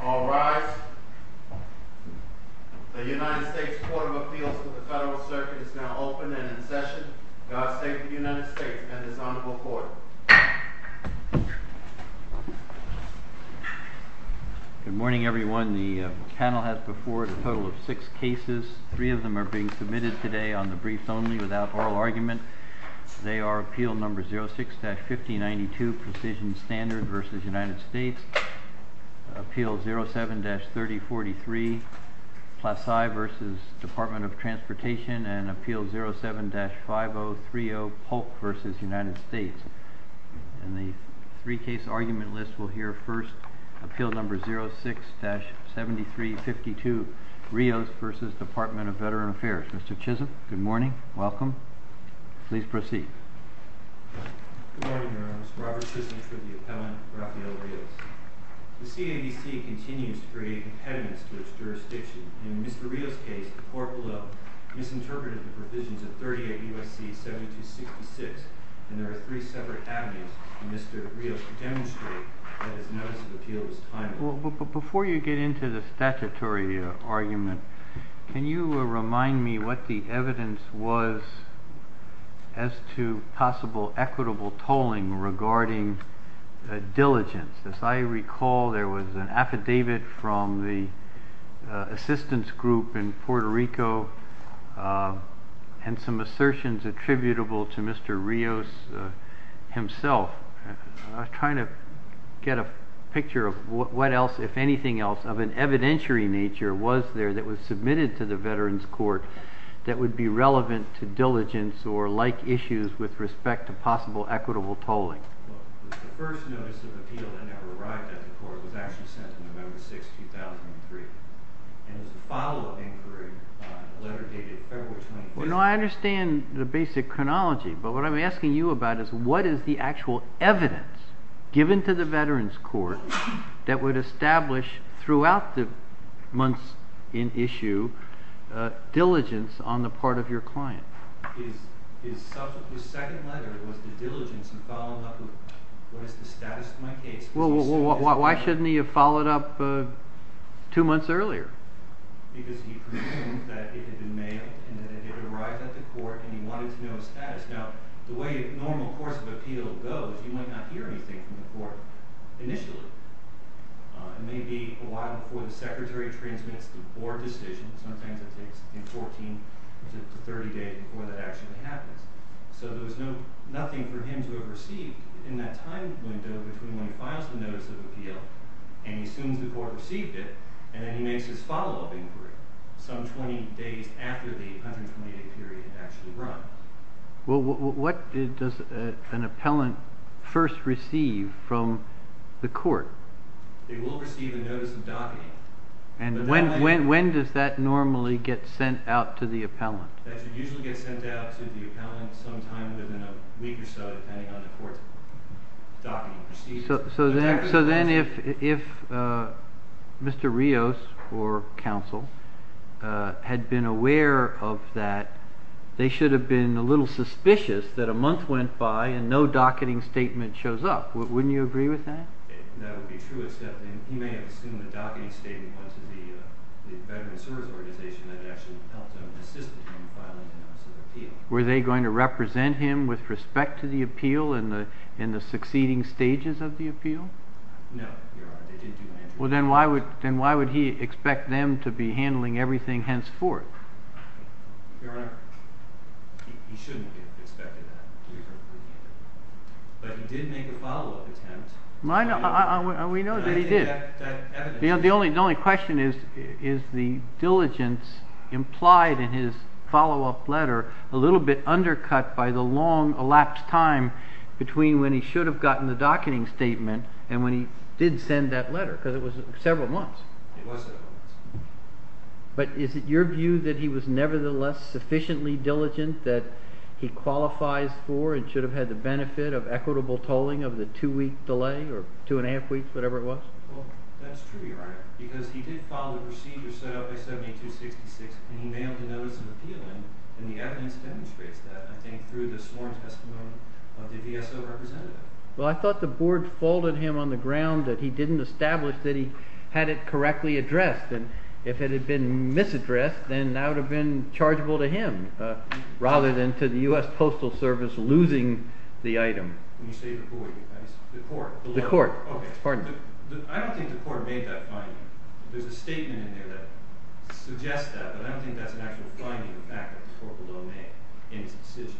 All rise. The United States Court of Appeals for the Federal Circuit is now open and in session. God save the United States and this honorable court. Good morning everyone. The panel has before it a total of six cases. Three of them are being submitted today on the brief only without oral argument. They are Appeal No. 06-5092 Precision Standard v. United States, Appeal No. 07-3043 Placide v. Department of Transportation, and Appeal No. 07-5030 Polk v. United States. And the three case argument list will hear first Appeal No. 06-7352 Rios v. Department of Veteran Affairs. Mr. Chisholm, good morning. Welcome. Please proceed. Good morning, Your Honor. This is Robert Chisholm for the appellant, Rafael Rios. The CAVC continues to create impediments to its jurisdiction. In Mr. Rios' case, the court below misinterpreted the provisions of 38 U.S.C. 7266, and there are three separate avenues for Mr. Rios to demonstrate that his notice of appeal was timely. Before you get into the statutory argument, can you remind me what the evidence was as to possible equitable tolling regarding diligence? As I recall, there was an affidavit from the assistance group in Puerto Rico and some assertions attributable to Mr. Rios himself. I'm trying to get a picture of what else, if anything else, of an evidentiary nature was there that was submitted to the Veterans Court that would be relevant to diligence or like issues with respect to possible equitable tolling. Well, the first notice of appeal that never arrived at the court was actually sent on November 6, 2003, and it was a follow-up inquiry on a letter dated February 25th. No, I understand the basic chronology, but what I'm asking you about is what is the actual evidence given to the Veterans Court that would establish throughout the months in issue diligence on the part of your client? His second letter was the diligence in following up with what is the status of my case. Well, why shouldn't he have followed up two months earlier? Because he presumed that it had been mailed and that it had arrived at the court and he wanted to know its status. Now, the way a normal course of appeal goes, you might not hear anything from the court initially. It may be a while before the secretary transmits the board decision. Sometimes it takes 14 to 30 days before that actually happens. So there's nothing for him to have received in that time window between when he files the notice of appeal and he assumes the court received it, and then he makes his follow-up inquiry some 20 days after the 120-day period had actually run. Well, what does an appellant first receive from the court? They will receive a notice of docketing. And when does that normally get sent out to the appellant? That should usually get sent out to the appellant sometime within a week or so, depending on the court's docketing procedures. So then if Mr. Rios or counsel had been aware of that, they should have been a little suspicious that a month went by and no docketing statement shows up. Wouldn't you agree with that? That would be true, except he may have assumed the docketing statement once the Veterans Service Organization had actually helped him and assisted him in filing the notice of appeal. Were they going to represent him with respect to the appeal in the succeeding stages of the appeal? No, Your Honor. They didn't do that. Well, then why would he expect them to be handling everything henceforth? Your Honor, he shouldn't have expected that. But he did make a follow-up attempt. We know that he did. The only question is, is the diligence implied in his follow-up letter a little bit undercut by the long elapsed time between when he should have gotten the docketing statement and when he did send that letter, because it was several months. It was several months. But is it your view that he was nevertheless sufficiently diligent that he qualifies for and should have had the benefit of equitable tolling of the two-week delay or two-and-a-half weeks, whatever it was? That's true, Your Honor, because he did follow the procedure set out by 7266 and he mailed a notice of appeal, and the evidence demonstrates that, I think, through the sworn testimony of the VSO representative. Well, I thought the board folded him on the ground that he didn't establish that he had it correctly addressed, and if it had been misaddressed, then that would have been chargeable to him rather than to the U.S. Postal Service losing the item. When you say the who, you mean the court? The court. I don't think the court made that finding. There's a statement in there that suggests that, but I don't think that's an actual finding, the fact that the court below made in its decision.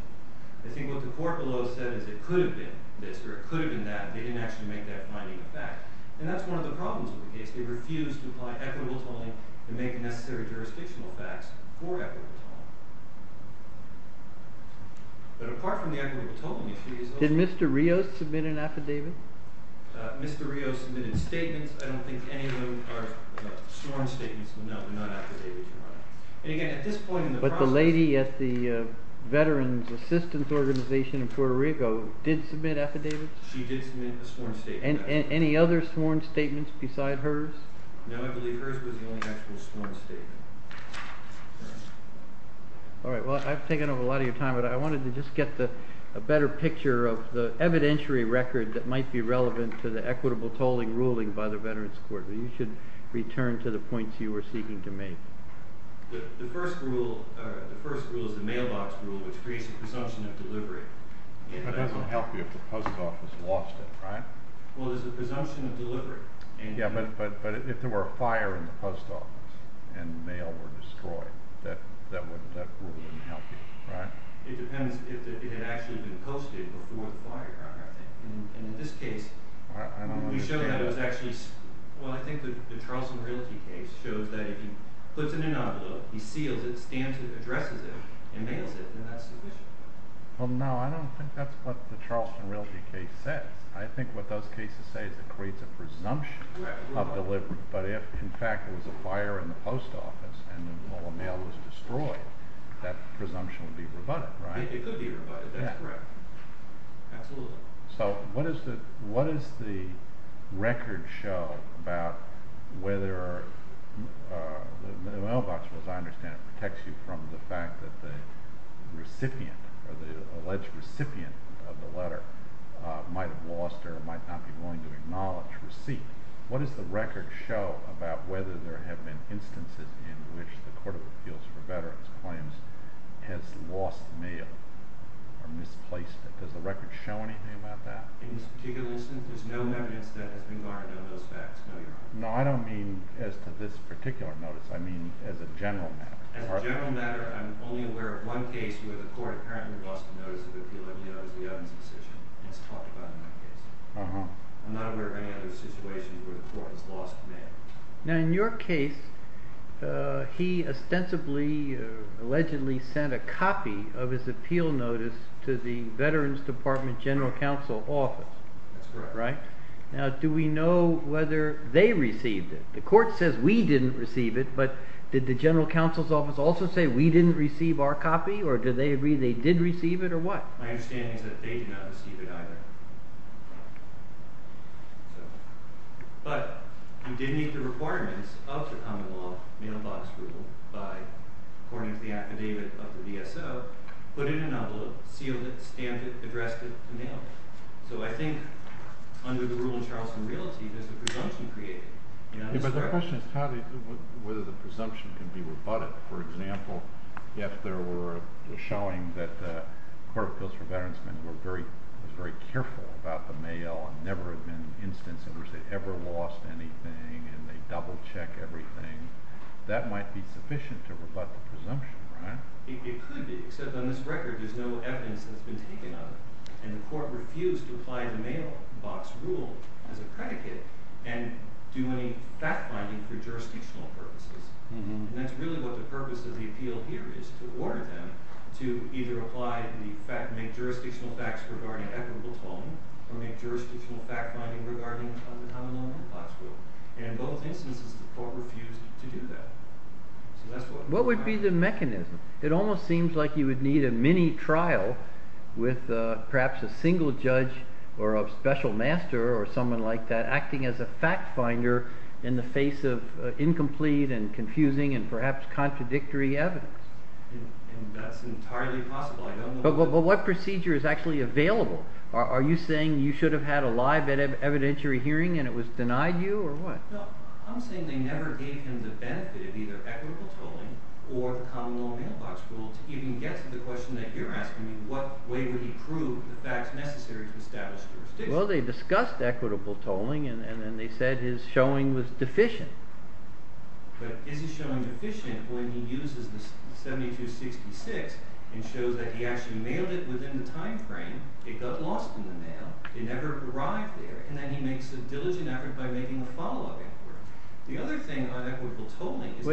I think what the court below said is it could have been this or it could have been that, but they didn't actually make that finding a fact. And that's one of the problems with the case. They refused to apply equitable tolling and make the necessary jurisdictional facts for equitable tolling. But apart from the equitable tolling issue, is there something else? Did Mr. Rios submit an affidavit? Mr. Rios submitted statements. I don't think any of them are sworn statements. No, they're not affidavits, Your Honor. But the lady at the Veterans Assistance Organization in Puerto Rico did submit affidavits? She did submit a sworn statement. And any other sworn statements besides hers? No, I believe hers was the only actual sworn statement. All right, well, I've taken up a lot of your time, but I wanted to just get a better picture of the evidentiary record that might be relevant to the equitable tolling ruling by the Veterans Court. You should return to the points you were seeking to make. The first rule is the mailbox rule, which creates a presumption of delivery. It doesn't help you if the post office lost it, right? Well, there's a presumption of delivery. Yeah, but if there were a fire in the post office and mail were destroyed, that rule wouldn't help you, right? It depends if it had actually been posted before the fire, Your Honor. And in this case, we showed that it was actually... Well, I think the Charleston Realty case shows that if he puts it in an envelope, he seals it, stamps it, addresses it, and mails it, then that's sufficient. Well, no, I don't think that's what the Charleston Realty case says. I think what those cases say is it creates a presumption of delivery. But if, in fact, there was a fire in the post office and the mail was destroyed, that presumption would be rebutted, right? It could be rebutted, that's correct. Absolutely. So what does the record show about whether the mailbox, as I understand it, protects you from the fact that the recipient or the alleged recipient of the letter might have lost or might not be willing to acknowledge receipt? What does the record show about whether there have been instances in which the Court of Appeals for Veterans Claims has lost mail or misplaced it? Does the record show anything about that? In this particular instance, there's no evidence that has been garnered on those facts, no, Your Honor. No, I don't mean as to this particular notice. I mean as a general matter. As a general matter, I'm only aware of one case where the court apparently lost a notice of appeal. And that one, you know, is the Evans decision. It's talked about in that case. I'm not aware of any other situations where the court has lost mail. Now, in your case, he ostensibly, allegedly, sent a copy of his appeal notice to the Veterans Department General Counsel Office. That's correct. Now, do we know whether they received it? The court says we didn't receive it, but did the General Counsel's Office also say we didn't receive our copy, or did they agree they did receive it, or what? My understanding is that they did not receive it either. But, you did meet the requirements of the common law mailbox rule by, according to the affidavit of the DSO, put it in an envelope, sealed it, stamped it, addressed it, and mailed it. So I think, under the rule in Charleston Realty, there's a presumption created. Yeah, but the question is whether the presumption can be rebutted. For example, if they were showing that the Court of Appeals for Veteransmen was very careful about the mail and never had been instances where they ever lost anything, and they double-check everything, that might be sufficient to rebut the presumption, right? It could be, except on this record, there's no evidence that's been taken of it. And the court refused to apply the mailbox rule as a predicate and do any fact-finding for jurisdictional purposes. And that's really what the purpose of the appeal here is, to order them to either make jurisdictional facts regarding Edward Blatone, or make jurisdictional fact-finding regarding the common law mailbox rule. And in both instances, the court refused to do that. What would be the mechanism? It almost seems like you would need a mini-trial with perhaps a single judge or a special master or someone like that acting as a fact-finder in the face of incomplete and confusing and perhaps contradictory evidence. And that's entirely possible. But what procedure is actually available? Are you saying you should have had a live evidentiary hearing and it was denied you, or what? No, I'm saying they never gave him the benefit of either equitable tolling or the common law mailbox rule to even get to the question that you're asking me, what way would he prove the facts necessary to establish jurisdiction? Well, they discussed equitable tolling, and then they said his showing was deficient. But is his showing deficient when he uses the 7266 and shows that he actually mailed it within the time frame, it got lost in the mail, it never arrived there, and then he makes a diligent effort by making a follow-up effort. The other thing on equitable tolling is…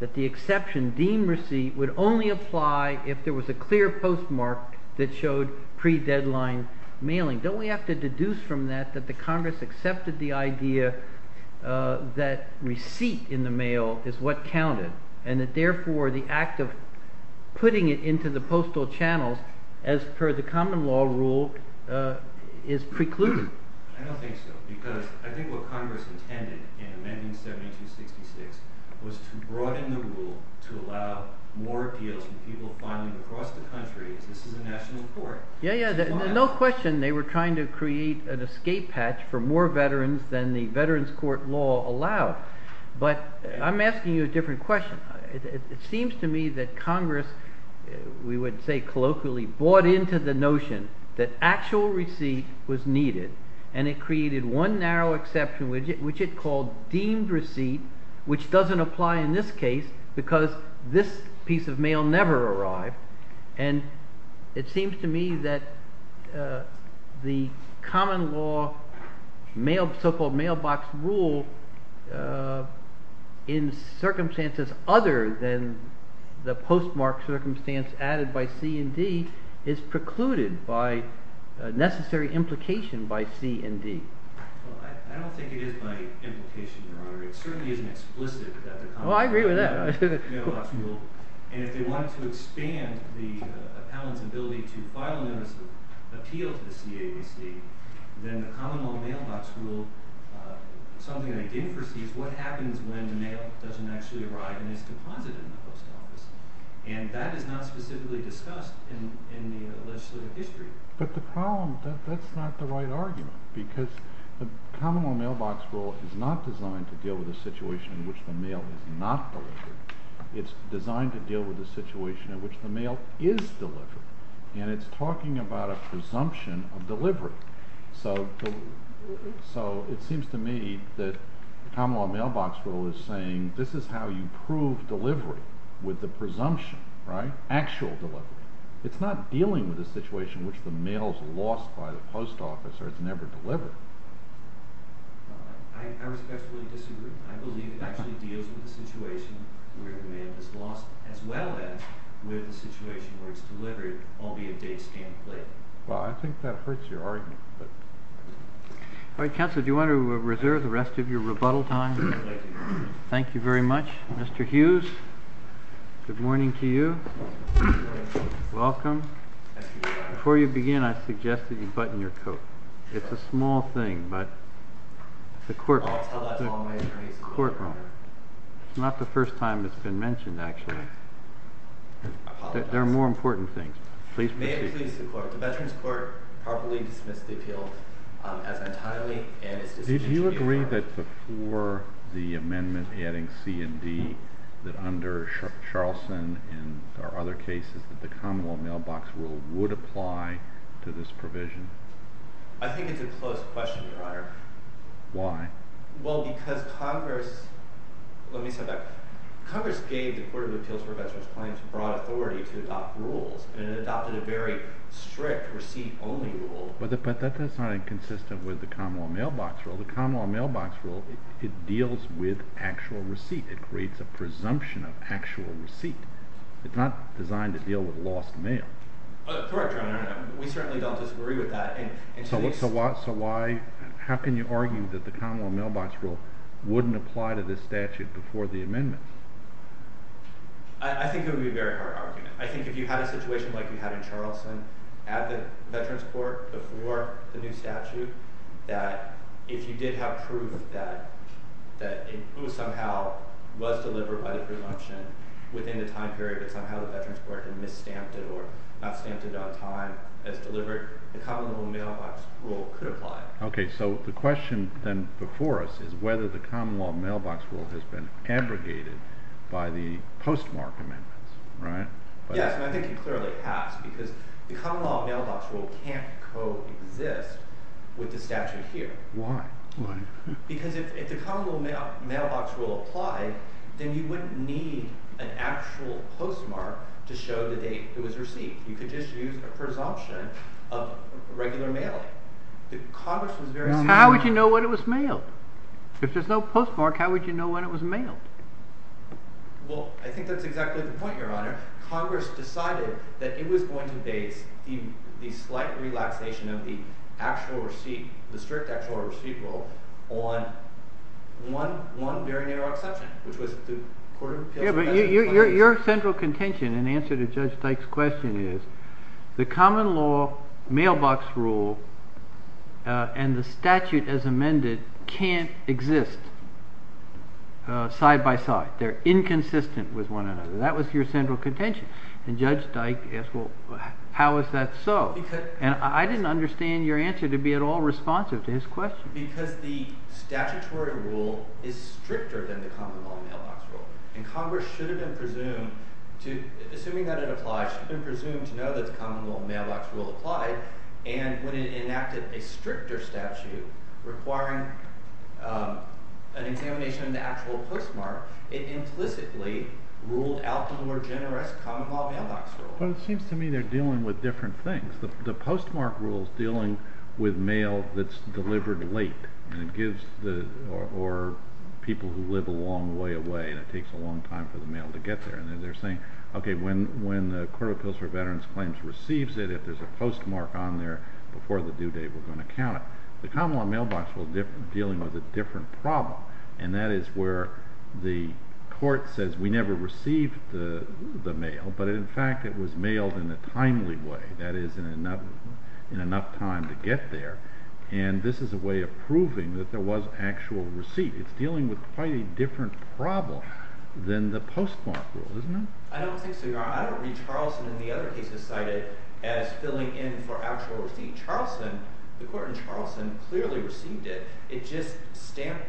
…that the exception deemed receipt would only apply if there was a clear postmark that showed pre-deadline mailing. Don't we have to deduce from that that the Congress accepted the idea that receipt in the mail is what counted, and that therefore the act of putting it into the postal channels as per the common law rule is precluded? I don't think so, because I think what Congress intended in amending 7266 was to broaden the rule to allow more appeals from people filing across the country, as this is a national court. Yeah, yeah, no question they were trying to create an escape hatch for more veterans than the veterans court law allowed, but I'm asking you a different question. It seems to me that Congress, we would say colloquially, bought into the notion that actual receipt was needed, and it created one narrow exception, which it called deemed receipt, which doesn't apply in this case because this piece of mail never arrived. And it seems to me that the common law so-called mailbox rule, in circumstances other than the postmark circumstance added by C&D, is precluded by necessary implication by C&D. Well, I don't think it is by implication, Your Honor. It certainly isn't explicit that the… Oh, I agree with that. And if they wanted to expand the appellant's ability to file a notice of appeal to the CABC, then the common law mailbox rule, something they didn't foresee, is what happens when the mail doesn't actually arrive and is deposited in the post office. And that is not specifically discussed in the legislative history. But the problem, that's not the right argument, because the common law mailbox rule is not designed to deal with a situation in which the mail is not delivered. It's designed to deal with a situation in which the mail is delivered, and it's talking about a presumption of delivery. So it seems to me that the common law mailbox rule is saying this is how you prove delivery with the presumption, right, actual delivery. It's not dealing with a situation in which the mail is lost by the post office or it's never delivered. I respectfully disagree. I believe it actually deals with a situation where the mail is lost as well as with a situation where it's delivered, albeit date, stamp, plate. Well, I think that hurts your argument. All right, counsel, do you want to reserve the rest of your rebuttal time? Thank you very much. Mr. Hughes, good morning to you. Welcome. Before you begin, I suggest that you button your coat. It's a small thing, but the courtroom, it's not the first time it's been mentioned, actually. There are more important things. Please proceed. May it please the Court, the Veterans Court properly dismiss the appeal as untimely and as disputed. Did you agree that before the amendment adding C and D, that under Charlson and there are other cases that the common law mailbox rule would apply to this provision? I think it's a close question, Your Honor. Why? Well, because Congress – let me say that. Congress gave the Court of Appeals for Veterans Claims broad authority to adopt rules, and it adopted a very strict receipt-only rule. But that's not inconsistent with the common law mailbox rule. The common law mailbox rule, it deals with actual receipt. It creates a presumption of actual receipt. It's not designed to deal with lost mail. Correct, Your Honor. We certainly don't disagree with that. So why – how can you argue that the common law mailbox rule wouldn't apply to this statute before the amendment? I think it would be a very hard argument. I think if you had a situation like you had in Charlson at the Veterans Court before the new statute, that if you did have proof that it somehow was delivered by the presumption within the time period, somehow the Veterans Court had mis-stamped it or not stamped it on time as delivered, the common law mailbox rule could apply. Okay, so the question then before us is whether the common law mailbox rule has been abrogated by the postmark amendments, right? Yes, and I think it clearly has because the common law mailbox rule can't coexist with the statute here. Why? Because if the common law mailbox rule applied, then you wouldn't need an actual postmark to show the date it was received. You could just use a presumption of regular mailing. How would you know when it was mailed? If there's no postmark, how would you know when it was mailed? Well, I think that's exactly the point, Your Honor. Congress decided that it was going to base the slight relaxation of the strict actual receipt rule on one very narrow exception, which was the Court of Appeals. But your central contention in answer to Judge Dyke's question is the common law mailbox rule and the statute as amended can't exist side by side. They're inconsistent with one another. That was your central contention. And Judge Dyke asked, well, how is that so? And I didn't understand your answer to be at all responsive to his question. Because the statutory rule is stricter than the common law mailbox rule. And Congress should have been presumed to, assuming that it applies, should have been presumed to know that the common law mailbox rule applied. And when it enacted a stricter statute requiring an examination of the actual postmark, it implicitly ruled out the more generous common law mailbox rule. Well, it seems to me they're dealing with different things. The postmark rule is dealing with mail that's delivered late or people who live a long way away and it takes a long time for the mail to get there. And they're saying, okay, when the Court of Appeals for Veterans Claims receives it, if there's a postmark on there before the due date, we're going to count it. The common law mailbox rule is dealing with a different problem. And that is where the court says we never received the mail, but in fact it was mailed in a timely way, that is, in enough time to get there. And this is a way of proving that there was actual receipt. It's dealing with quite a different problem than the postmark rule, isn't it? I don't think so, Your Honor. I don't read Charlson in the other cases cited as filling in for actual receipt. The court in Charlson clearly received it. It just stamped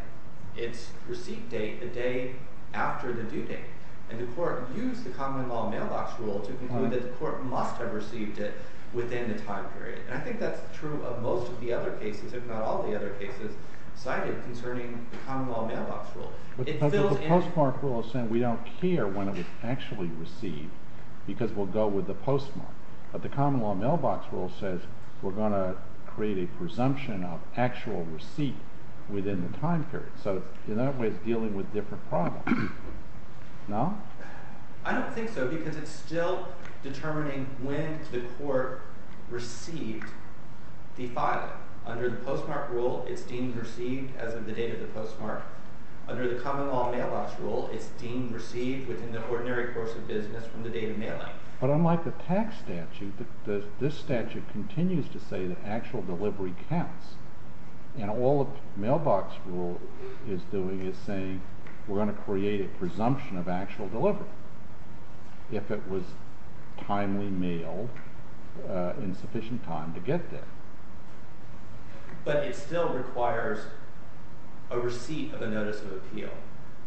its receipt date the day after the due date. And the court used the common law mailbox rule to conclude that the court must have received it within the time period. And I think that's true of most of the other cases, if not all the other cases cited concerning the common law mailbox rule. But the postmark rule is saying we don't care when it was actually received because we'll go with the postmark. But the common law mailbox rule says we're going to create a presumption of actual receipt within the time period. So in other ways, it's dealing with a different problem. No? I don't think so because it's still determining when the court received the filing. Under the postmark rule, it's deemed received as of the date of the postmark. Under the common law mailbox rule, it's deemed received within the ordinary course of business from the date of mailing. But unlike the tax statute, this statute continues to say that actual delivery counts. And all the mailbox rule is doing is saying we're going to create a presumption of actual delivery if it was timely mailed in sufficient time to get there. But it still requires a receipt of a notice of appeal.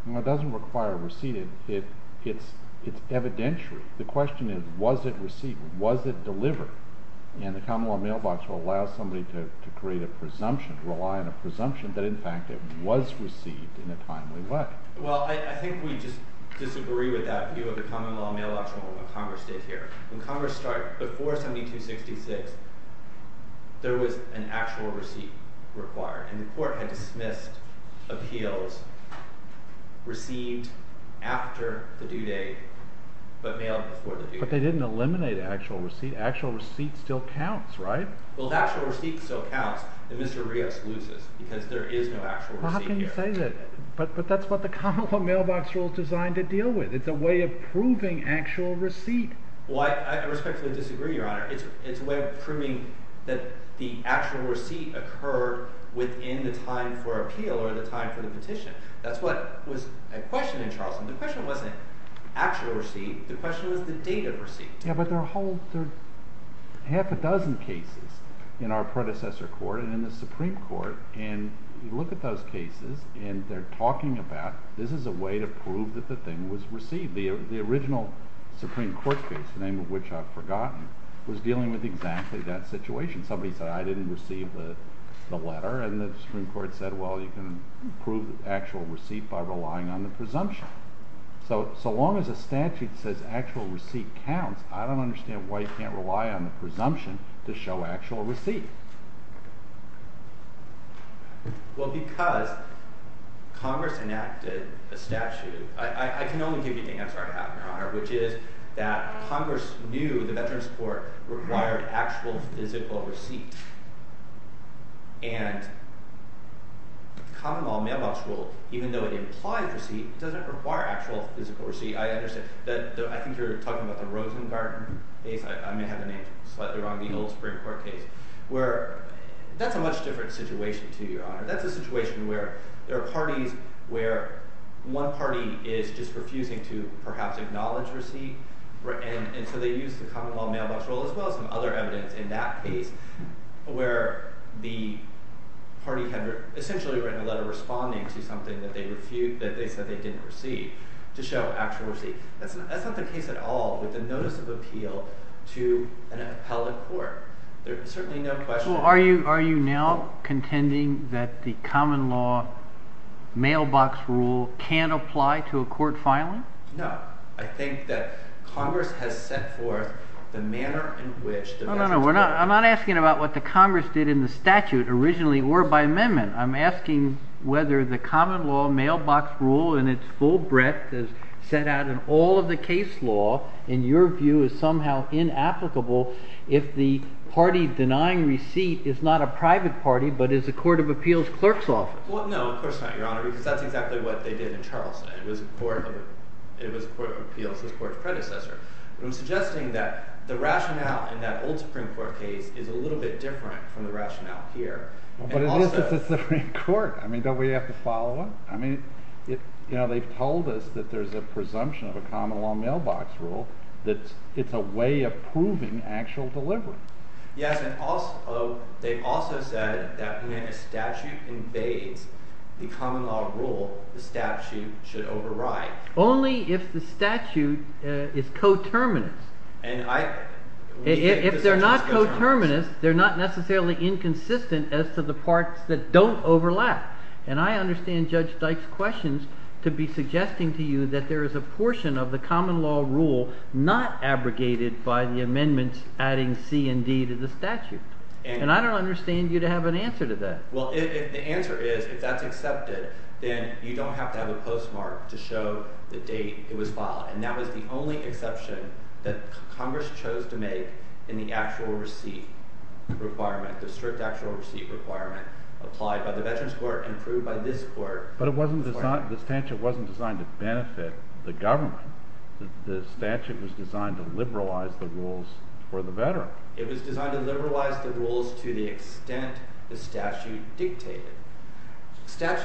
No, it doesn't require a receipt. It's evidentiary. The question is, was it received? Was it delivered? And the common law mailbox will allow somebody to create a presumption, rely on a presumption, that in fact it was received in a timely way. Well, I think we just disagree with that view of the common law mailbox rule and what Congress did here. When Congress started before 7266, there was an actual receipt required. And the court had dismissed appeals received after the due date but mailed before the due date. But they didn't eliminate actual receipt. Actual receipt still counts, right? Well, the actual receipt still counts. And Mr. Rios loses because there is no actual receipt here. But that's what the common law mailbox rule is designed to deal with. It's a way of proving actual receipt. Well, I respectfully disagree, Your Honor. It's a way of proving that the actual receipt occurred within the time for appeal or the time for the petition. That's what was a question in Charleston. The question wasn't actual receipt. The question was the date of receipt. Yeah, but there are half a dozen cases in our predecessor court and in the Supreme Court. And you look at those cases, and they're talking about this is a way to prove that the thing was received. The original Supreme Court case, the name of which I've forgotten, was dealing with exactly that situation. Somebody said, I didn't receive the letter. And the Supreme Court said, well, you can prove the actual receipt by relying on the presumption. So long as a statute says actual receipt counts, I don't understand why you can't rely on the presumption to show actual receipt. Well, because Congress enacted a statute. I can only give you the answer I have, Your Honor, which is that Congress knew the Veterans Court required actual physical receipt. And common law mailbox rule, even though it implies receipt, doesn't require actual physical receipt. I understand. I think you're talking about the Rosengarten case. I may have the name slightly wrong. The old Supreme Court case where that's a much different situation to you, Your Honor. That's a situation where there are parties where one party is just refusing to perhaps acknowledge receipt. And so they use the common law mailbox rule as well as some other evidence in that case where the party had essentially written a letter responding to something that they said they didn't receive to show actual receipt. That's not the case at all with the notice of appeal to an appellate court. There's certainly no question. Well, are you now contending that the common law mailbox rule can't apply to a court filing? No. I think that Congress has set forth the manner in which the Veterans Court… No, no, no. I'm not asking about what the Congress did in the statute originally or by amendment. I'm asking whether the common law mailbox rule in its full breadth is set out in all of the case law, in your view, is somehow inapplicable if the party denying receipt is not a private party but is a court of appeals clerk's office. Well, no, of course not, Your Honor, because that's exactly what they did in Charleston. It was a court of appeals, this court's predecessor. But I'm suggesting that the rationale in that old Supreme Court case is a little bit different from the rationale here. But it is a Supreme Court. I mean, don't we have to follow them? I mean, you know, they've told us that there's a presumption of a common law mailbox rule that it's a way of proving actual delivery. Yes, and also they've also said that when a statute invades the common law rule, the statute should override. Only if the statute is coterminous. And I… And I don't understand you to have an answer to that. Well, the answer is if that's accepted, then you don't have to have a postmark to show the date it was filed. And that was the only exception that Congress chose to make in the actual receipt requirement, the strict actual receipt requirement applied by the Veterans Court and approved by this court. But it wasn't designed – the statute wasn't designed to benefit the government. The statute was designed to liberalize the rules for the veteran. It was designed to liberalize the rules to the extent the statute dictated.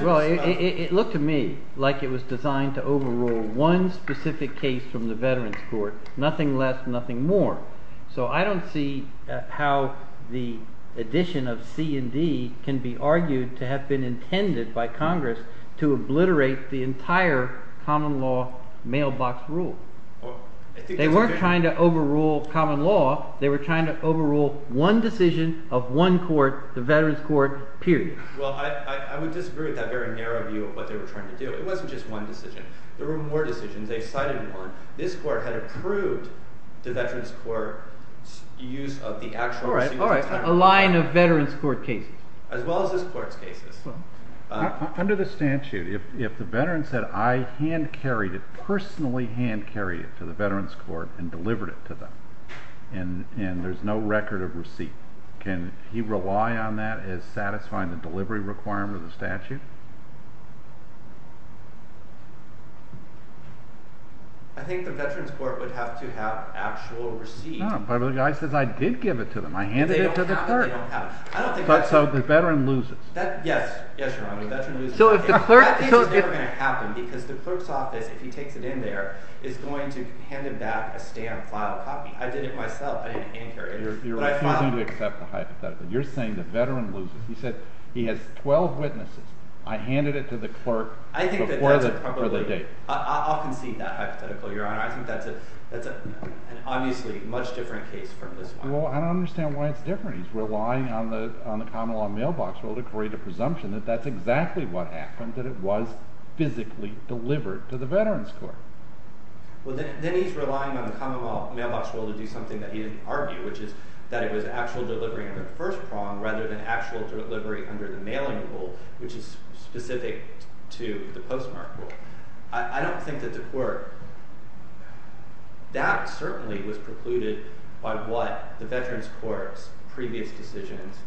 Well, it looked to me like it was designed to overrule one specific case from the Veterans Court, nothing less, nothing more. So I don't see how the addition of C&D can be argued to have been intended by Congress to obliterate the entire common law mailbox rule. They weren't trying to overrule common law. They were trying to overrule one decision of one court, the Veterans Court, period. Well, I would disagree with that very narrow view of what they were trying to do. It wasn't just one decision. There were more decisions. They cited more. This court had approved the Veterans Court's use of the actual receipt requirement. All right. All right. A line of Veterans Court cases. As well as this court's cases. Under the statute, if the veteran said, I hand-carried it, personally hand-carried it to the Veterans Court and delivered it to them, and there's no record of receipt, can he rely on that as satisfying the delivery requirement of the statute? I think the Veterans Court would have to have actual receipt. No, but if the guy says, I did give it to them, I handed it to the court. They don't have it. They don't have it. So the veteran loses. Yes. Yes, Your Honor. The veteran loses. So if the clerk… That is never going to happen, because the clerk's office, if he takes it in there, is going to hand him back a stamped, filed copy. I did it myself. I didn't hand-carry it. You're refusing to accept the hypothetical. You're saying the veteran loses. He said he has 12 witnesses. I handed it to the clerk. I think that's probably… Before the date. I'll concede that hypothetical, Your Honor. I think that's an obviously much different case from this one. Well, I don't understand why it's different. He's relying on the common law mailbox rule to create a presumption that that's exactly what happened, that it was physically delivered to the Veterans Court. Well, then he's relying on the common law mailbox rule to do something that he didn't argue, which is that it was actual delivery under the first prong rather than actual delivery under the mailing rule, which is specific to the postmark rule. I don't think that the court – that certainly was precluded by what the Veterans Court's previous decisions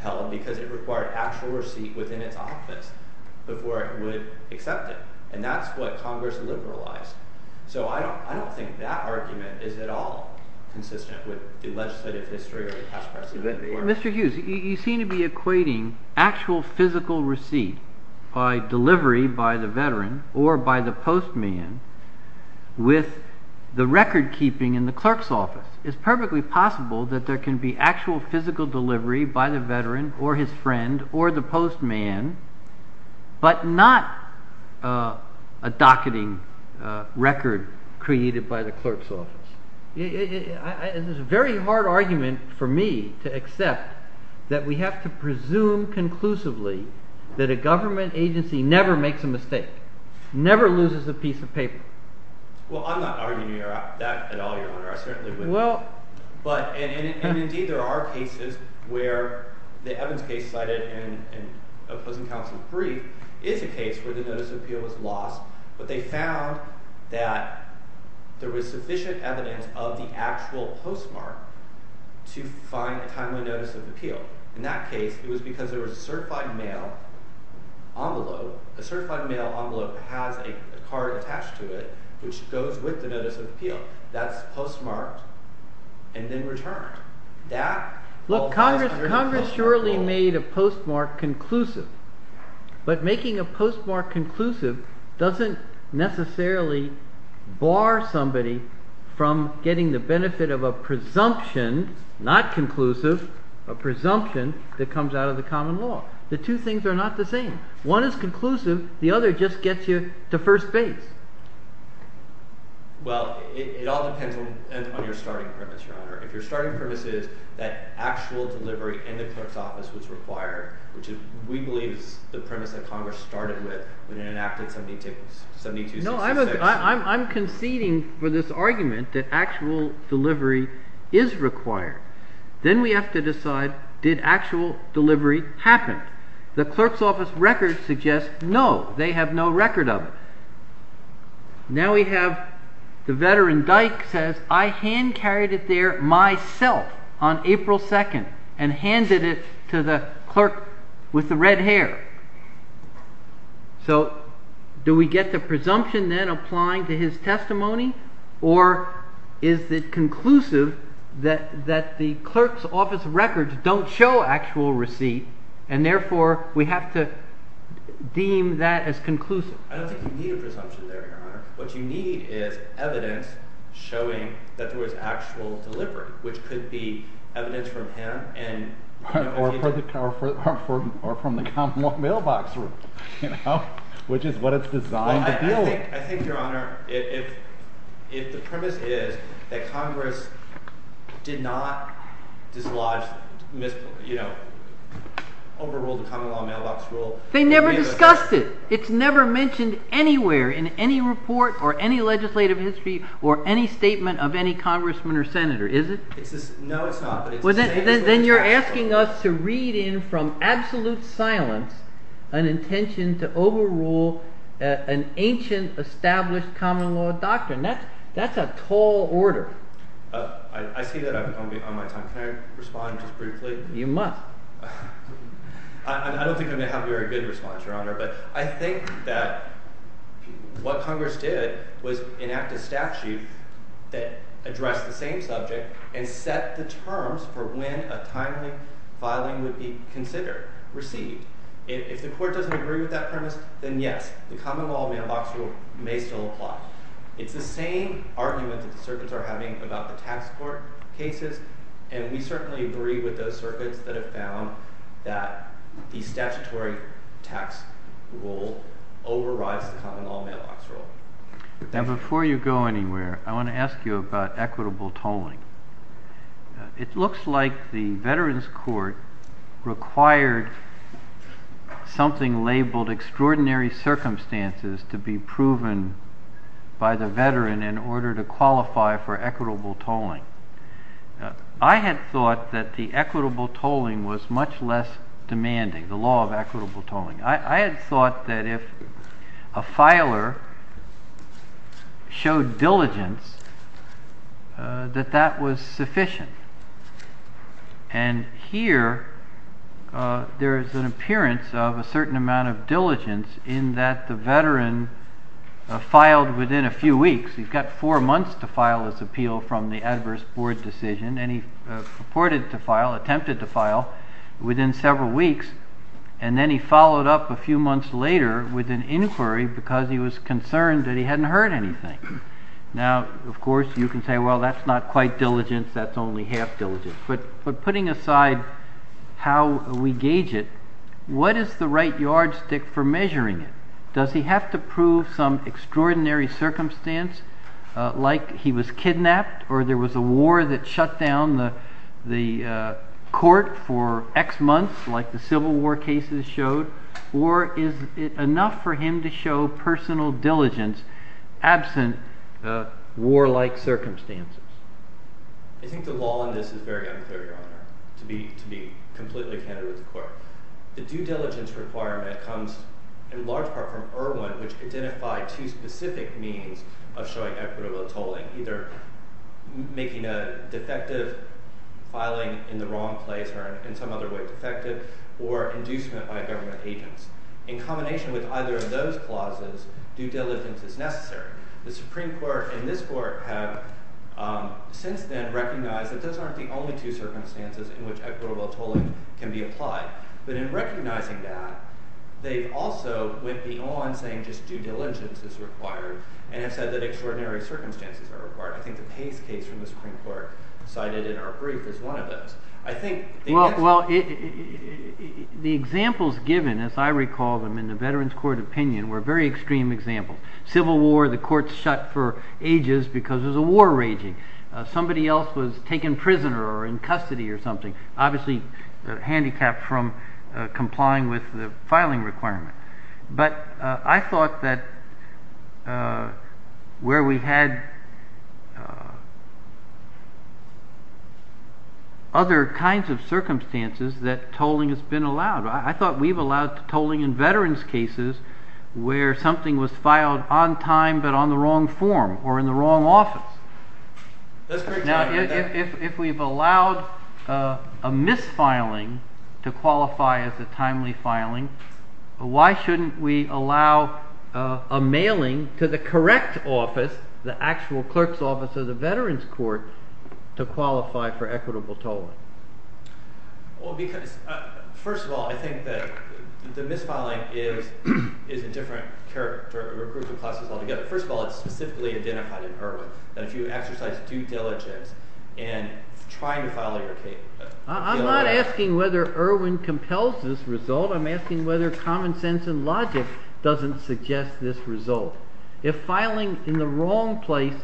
held because it required actual receipt within its office before it would accept it, and that's what Congress liberalized. So I don't think that argument is at all consistent with the legislative history or the past precedent. Mr. Hughes, you seem to be equating actual physical receipt by delivery by the veteran or by the postman with the recordkeeping in the clerk's office. It's perfectly possible that there can be actual physical delivery by the veteran or his friend or the postman but not a docketing record created by the clerk's office. It's a very hard argument for me to accept that we have to presume conclusively that a government agency never makes a mistake, never loses a piece of paper. Well, I'm not arguing that at all, Your Honor. I certainly wouldn't. And indeed, there are cases where – the Evans case cited in opposing counsel's brief is a case where the notice of appeal was lost, but they found that there was sufficient evidence of the actual postmark to find a timely notice of appeal. In that case, it was because there was a certified mail envelope. A certified mail envelope has a card attached to it which goes with the notice of appeal. That's postmarked and then returned. That falls under the postmark rule. But making a postmark conclusive doesn't necessarily bar somebody from getting the benefit of a presumption, not conclusive, a presumption that comes out of the common law. The two things are not the same. One is conclusive. The other just gets you to first base. Well, it all depends on your starting premise, Your Honor. If your starting premise is that actual delivery in the clerk's office was required, which we believe is the premise that Congress started with when it enacted 7266. No, I'm conceding for this argument that actual delivery is required. Then we have to decide did actual delivery happen. The clerk's office records suggest no, they have no record of it. Now we have the veteran Dyke says, I hand carried it there myself on April 2nd and handed it to the clerk with the red hair. So do we get the presumption then applying to his testimony or is it conclusive that the clerk's office records don't show actual receipt and therefore we have to deem that as conclusive? I don't think you need a presumption there, Your Honor. What you need is evidence showing that there was actual delivery, which could be evidence from him. Or from the common law mailbox rule, which is what it's designed to deal with. I think, Your Honor, if the premise is that Congress did not overrule the common law mailbox rule. They never discussed it. It's never mentioned anywhere in any report or any legislative history or any statement of any congressman or senator, is it? No, it's not. Then you're asking us to read in from absolute silence an intention to overrule an ancient established common law doctrine. That's a tall order. I see that I'm on my time. Can I respond just briefly? You must. I don't think I'm going to have a very good response, Your Honor, but I think that what Congress did was enact a statute that addressed the same subject and set the terms for when a timely filing would be considered, received. If the court doesn't agree with that premise, then yes, the common law mailbox rule may still apply. It's the same argument that the circuits are having about the tax court cases, and we certainly agree with those circuits that have found that the statutory tax rule overrides the common law mailbox rule. Now before you go anywhere, I want to ask you about equitable tolling. It looks like the Veterans Court required something labeled extraordinary circumstances to be proven by the veteran in order to qualify for equitable tolling. I had thought that the equitable tolling was much less demanding, the law of equitable tolling. I had thought that if a filer showed diligence that that was sufficient. And here there is an appearance of a certain amount of diligence in that the veteran filed within a few weeks. He's got four months to file his appeal from the adverse board decision, and he purported to file, attempted to file within several weeks. And then he followed up a few months later with an inquiry because he was concerned that he hadn't heard anything. Now, of course, you can say, well, that's not quite diligence. That's only half diligence. But putting aside how we gauge it, what is the right yardstick for measuring it? Does he have to prove some extraordinary circumstance like he was kidnapped or there was a war that shut down the court for X months like the Civil War cases showed? Or is it enough for him to show personal diligence absent warlike circumstances? I think the law on this is very unclear, Your Honor, to be completely candid with the court. The due diligence requirement comes in large part from Irwin, which identified two specific means of showing equitable tolling, either making a defective filing in the wrong place or in some other way defective or inducement by government agents. In combination with either of those clauses, due diligence is necessary. The Supreme Court and this court have since then recognized that those aren't the only two circumstances in which equitable tolling can be applied. But in recognizing that, they also went beyond saying just due diligence is required and have said that extraordinary circumstances are required. I think the Pace case from the Supreme Court cited in our brief is one of those. I think the examples given, as I recall them in the Veterans Court opinion, were very extreme examples. Civil War, the courts shut for ages because there was a war raging. Somebody else was taken prisoner or in custody or something, obviously handicapped from complying with the filing requirement. But I thought that where we had other kinds of circumstances that tolling has been allowed. I thought we've allowed tolling in Veterans cases where something was filed on time but on the wrong form or in the wrong office. Now, if we've allowed a misfiling to qualify as a timely filing, why shouldn't we allow a mailing to the correct office, the actual clerk's office of the Veterans Court, to qualify for equitable tolling? Well, because first of all, I think that the misfiling is a different group of classes altogether. First of all, it's specifically identified in Irwin that if you exercise due diligence in trying to file a… I'm not asking whether Irwin compels this result. I'm asking whether common sense and logic doesn't suggest this result. If filing in the wrong place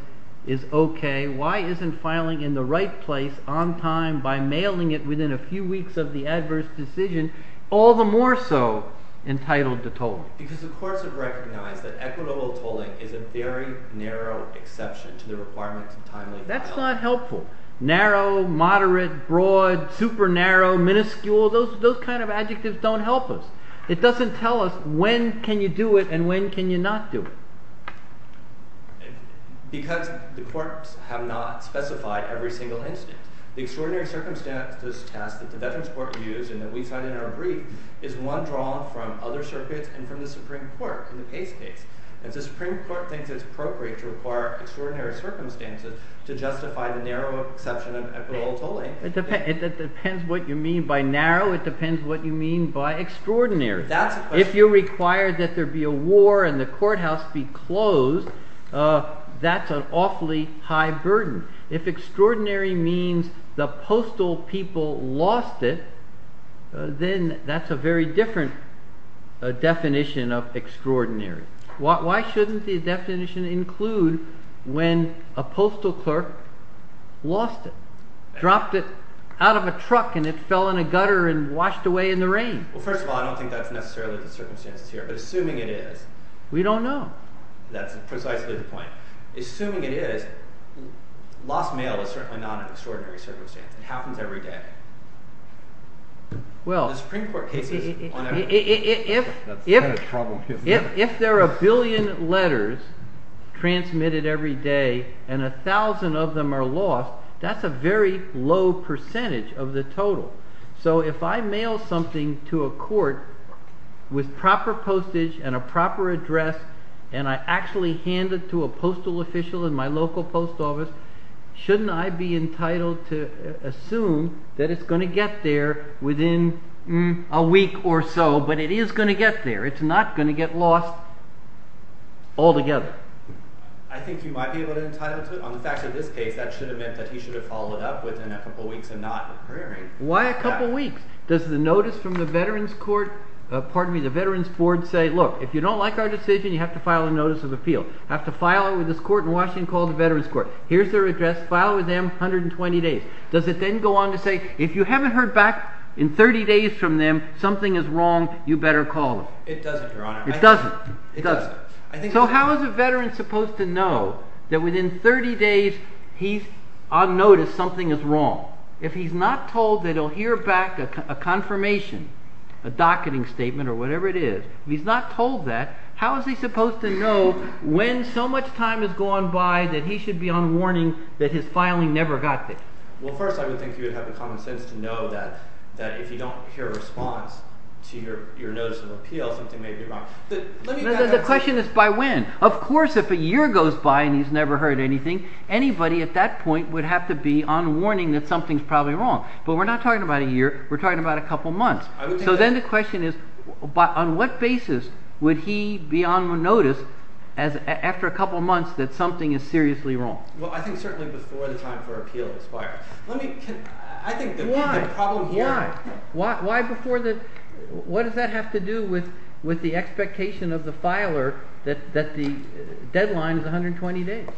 is okay, why isn't filing in the right place on time by mailing it within a few weeks of the adverse decision all the more so entitled to tolling? Because the courts have recognized that equitable tolling is a very narrow exception to the requirements of timely filing. That's not helpful. Narrow, moderate, broad, super narrow, minuscule, those kind of adjectives don't help us. It doesn't tell us when can you do it and when can you not do it. Because the courts have not specified every single instance. The extraordinary circumstances test that the Veterans Court used and that we cited in our brief is one drawn from other circuits and from the Supreme Court in the Pace case. And the Supreme Court thinks it's appropriate to require extraordinary circumstances to justify the narrow exception of equitable tolling. It depends what you mean by narrow. It depends what you mean by extraordinary. If you require that there be a war and the courthouse be closed, that's an awfully high burden. If extraordinary means the postal people lost it, then that's a very different definition of extraordinary. Why shouldn't the definition include when a postal clerk lost it, dropped it out of a truck, and it fell in a gutter and washed away in the rain? Well, first of all, I don't think that's necessarily the circumstances here, but assuming it is. We don't know. That's precisely the point. Assuming it is, lost mail is certainly not an extraordinary circumstance. It happens every day. Well, if there are a billion letters transmitted every day and a thousand of them are lost, that's a very low percentage of the total. So if I mail something to a court with proper postage and a proper address and I actually hand it to a postal official in my local post office, shouldn't I be entitled to assume that it's going to get there within a week or so? But it is going to get there. It's not going to get lost altogether. I think you might be entitled to it. On the facts of this case, that should have meant that he should have followed it up within a couple of weeks and not occurring. Why a couple of weeks? Does the notice from the Veterans Board say, look, if you don't like our decision, you have to file a notice of appeal. You have to file it with this court in Washington called the Veterans Court. Here's their address. File it with them, 120 days. Does it then go on to say, if you haven't heard back in 30 days from them, something is wrong, you better call them? It doesn't, Your Honor. It doesn't? It doesn't. So how is a veteran supposed to know that within 30 days he's on notice something is wrong? If he's not told that he'll hear back a confirmation, a docketing statement or whatever it is, if he's not told that, how is he supposed to know when so much time has gone by that he should be on warning that his filing never got there? Well, first I would think you would have the common sense to know that if you don't hear a response to your notice of appeal, something may be wrong. The question is by when. Of course if a year goes by and he's never heard anything, anybody at that point would have to be on warning that something's probably wrong. But we're not talking about a year. We're talking about a couple months. So then the question is, on what basis would he be on notice after a couple months that something is seriously wrong? Well, I think certainly before the time for appeal expires. Why? Why? Why before the – what does that have to do with the expectation of the filer that the deadline is 120 days?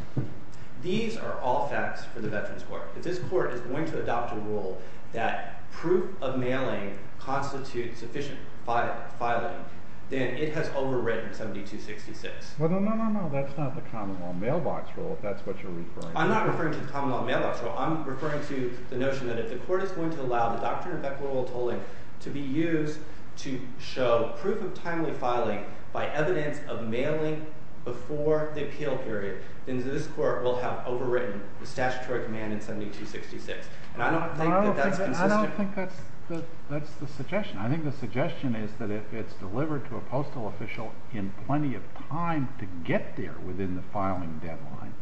These are all facts for the veterans court. If this court is going to adopt a rule that proof of mailing constitutes sufficient filing, then it has overwritten 7266. Well, no, no, no, no. That's not the common law mailbox rule if that's what you're referring to. I'm not referring to the common law mailbox rule. I'm referring to the notion that if the court is going to allow the doctrine of equitable tolling to be used to show proof of timely filing by evidence of mailing before the appeal period, then this court will have overwritten the statutory command in 7266. And I don't think that that's consistent. I don't think that's the suggestion. I think the suggestion is that if it's delivered to a postal official in plenty of time to get there within the filing deadline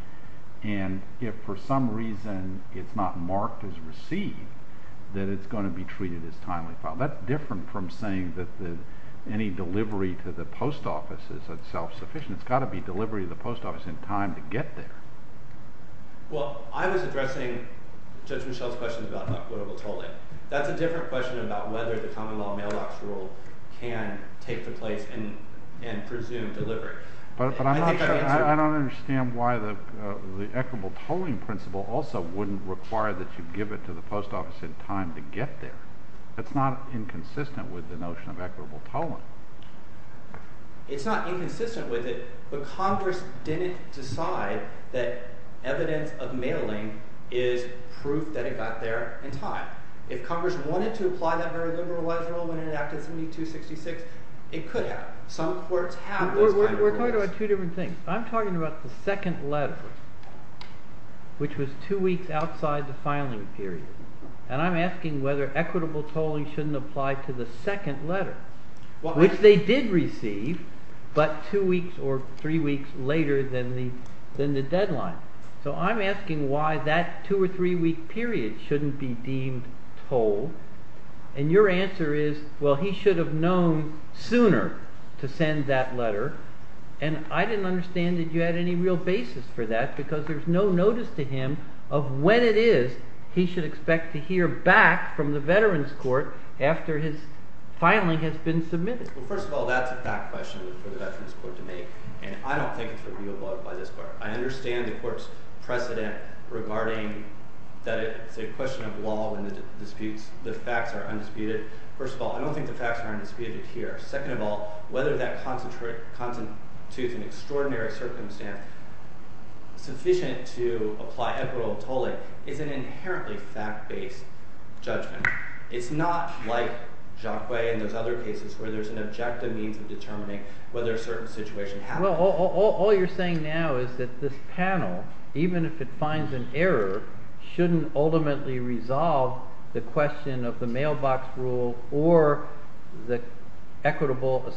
and if for some reason it's not marked as received, then it's going to be treated as timely filing. That's different from saying that any delivery to the post office is self-sufficient. It's got to be delivery to the post office in time to get there. Well, I was addressing Judge Michel's question about equitable tolling. That's a different question about whether the common law mailbox rule can take the place and presume delivery. But I don't understand why the equitable tolling principle also wouldn't require that you give it to the post office in time to get there. That's not inconsistent with the notion of equitable tolling. It's not inconsistent with it, but Congress didn't decide that evidence of mailing is proof that it got there in time. If Congress wanted to apply that very liberalized rule when it enacted 7266, it could have. We're talking about two different things. I'm talking about the second letter, which was two weeks outside the filing period. And I'm asking whether equitable tolling shouldn't apply to the second letter, which they did receive, but two weeks or three weeks later than the deadline. So I'm asking why that two- or three-week period shouldn't be deemed tolled. And your answer is, well, he should have known sooner to send that letter. And I didn't understand that you had any real basis for that because there's no notice to him of when it is he should expect to hear back from the Veterans Court after his filing has been submitted. Well, first of all, that's a fact question for the Veterans Court to make, and I don't think it's reviewable by this court. I understand the court's precedent regarding that it's a question of law when the disputes – the facts are undisputed. First of all, I don't think the facts are undisputed here. Second of all, whether that constitutes an extraordinary circumstance sufficient to apply equitable tolling is an inherently fact-based judgment. It's not like Jacques Way and those other cases where there's an objective means of determining whether a certain situation happened. Well, all you're saying now is that this panel, even if it finds an error, shouldn't ultimately resolve the question of the mailbox rule or the equitable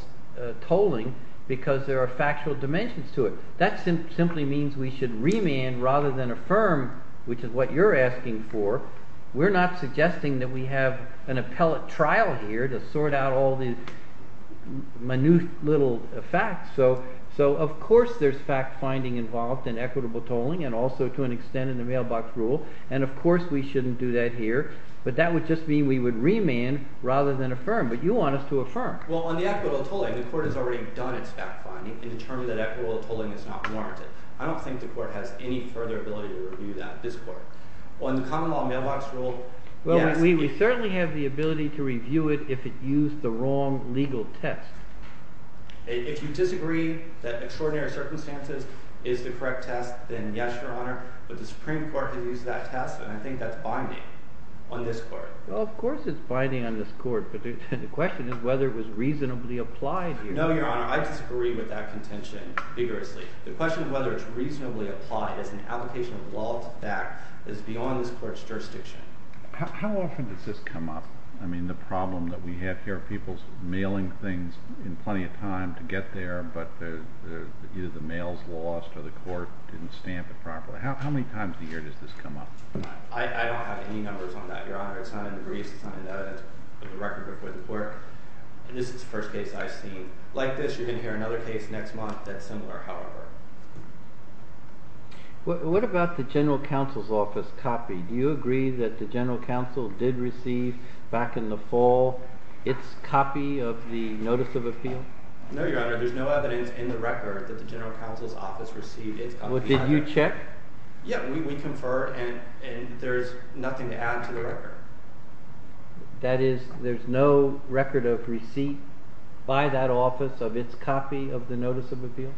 tolling because there are factual dimensions to it. That simply means we should remand rather than affirm, which is what you're asking for. We're not suggesting that we have an appellate trial here to sort out all these minute little facts, so of course there's fact-finding involved in equitable tolling and also to an extent in the mailbox rule, and of course we shouldn't do that here. But that would just mean we would remand rather than affirm, but you want us to affirm. Well, on the equitable tolling, the court has already done its fact-finding and determined that equitable tolling is not warranted. I don't think the court has any further ability to review that at this court. On the common law mailbox rule, yes. Well, we certainly have the ability to review it if it used the wrong legal test. If you disagree that extraordinary circumstances is the correct test, then yes, Your Honor, but the Supreme Court has used that test, and I think that's binding on this court. Well, of course it's binding on this court, but the question is whether it was reasonably applied here. No, Your Honor, I disagree with that contention vigorously. The question is whether it's reasonably applied as an application of law that is beyond this court's jurisdiction. How often does this come up? I mean, the problem that we have here are people mailing things in plenty of time to get there, but either the mail is lost or the court didn't stamp it properly. How many times a year does this come up? I don't have any numbers on that, Your Honor. It's not in the briefs. It's not in the evidence of the record before the court. This is the first case I've seen. Like this, you're going to hear another case next month that's similar, however. What about the General Counsel's Office copy? Do you agree that the General Counsel did receive, back in the fall, its copy of the Notice of Appeal? No, Your Honor, there's no evidence in the record that the General Counsel's Office received its copy. Did you check? Yeah, we confer, and there's nothing to add to the record. That is, there's no record of receipt by that office of its copy of the Notice of Appeal?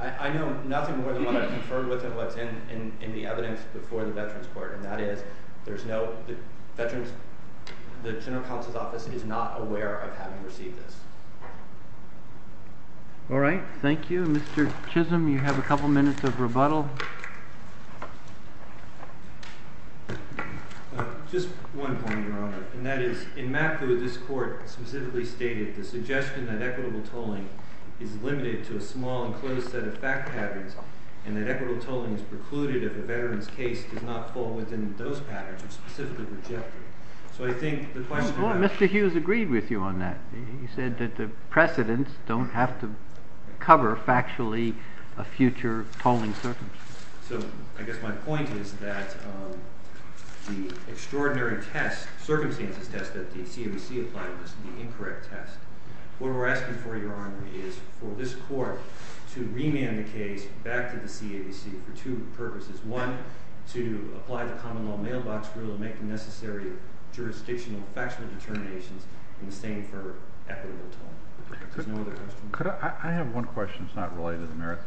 I know nothing more than what I've conferred with and what's in the evidence before the Veterans Court, and that is, the General Counsel's Office is not aware of having received this. All right, thank you. Mr. Chisholm, you have a couple minutes of rebuttal. Just one point, Your Honor, and that is, in Matthew, this Court specifically stated the suggestion that equitable tolling is limited to a small and closed set of fact patterns, and that equitable tolling is precluded if a veteran's case does not fall within those patterns, and specifically rejected. So I think the question about— No, Mr. Hughes agreed with you on that. He said that the precedents don't have to cover, factually, a future tolling circumstance. So I guess my point is that the extraordinary test—circumstances test that the CAVC applied was the incorrect test. What we're asking for, Your Honor, is for this Court to remand the case back to the CAVC for two purposes. One, to apply the common law mailbox rule and make the necessary jurisdictional factually determinations, and the same for equitable tolling. If there's no other questions. I have one question that's not related to merit.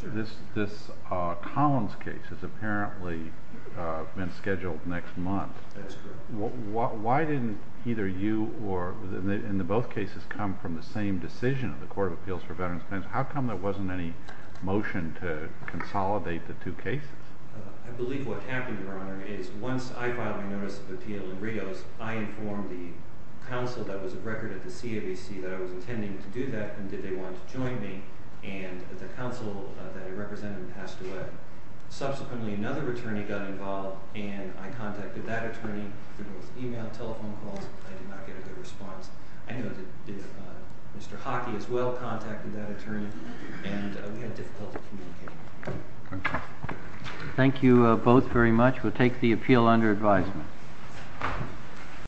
Sure. This Collins case has apparently been scheduled next month. That's correct. Why didn't either you or—in both cases come from the same decision of the Court of Appeals for Veterans' Claims? How come there wasn't any motion to consolidate the two cases? I believe what happened, Your Honor, is once I filed my notice of appeal in Rios, I informed the counsel that was at record at the CAVC that I was intending to do that, and did they want to join me, and the counsel that I represented passed away. Subsequently, another attorney got involved, and I contacted that attorney through both email and telephone calls. I did not get a good response. I know that Mr. Hockey as well contacted that attorney, and we had difficulty communicating. Thank you both very much. We'll take the appeal under advisement.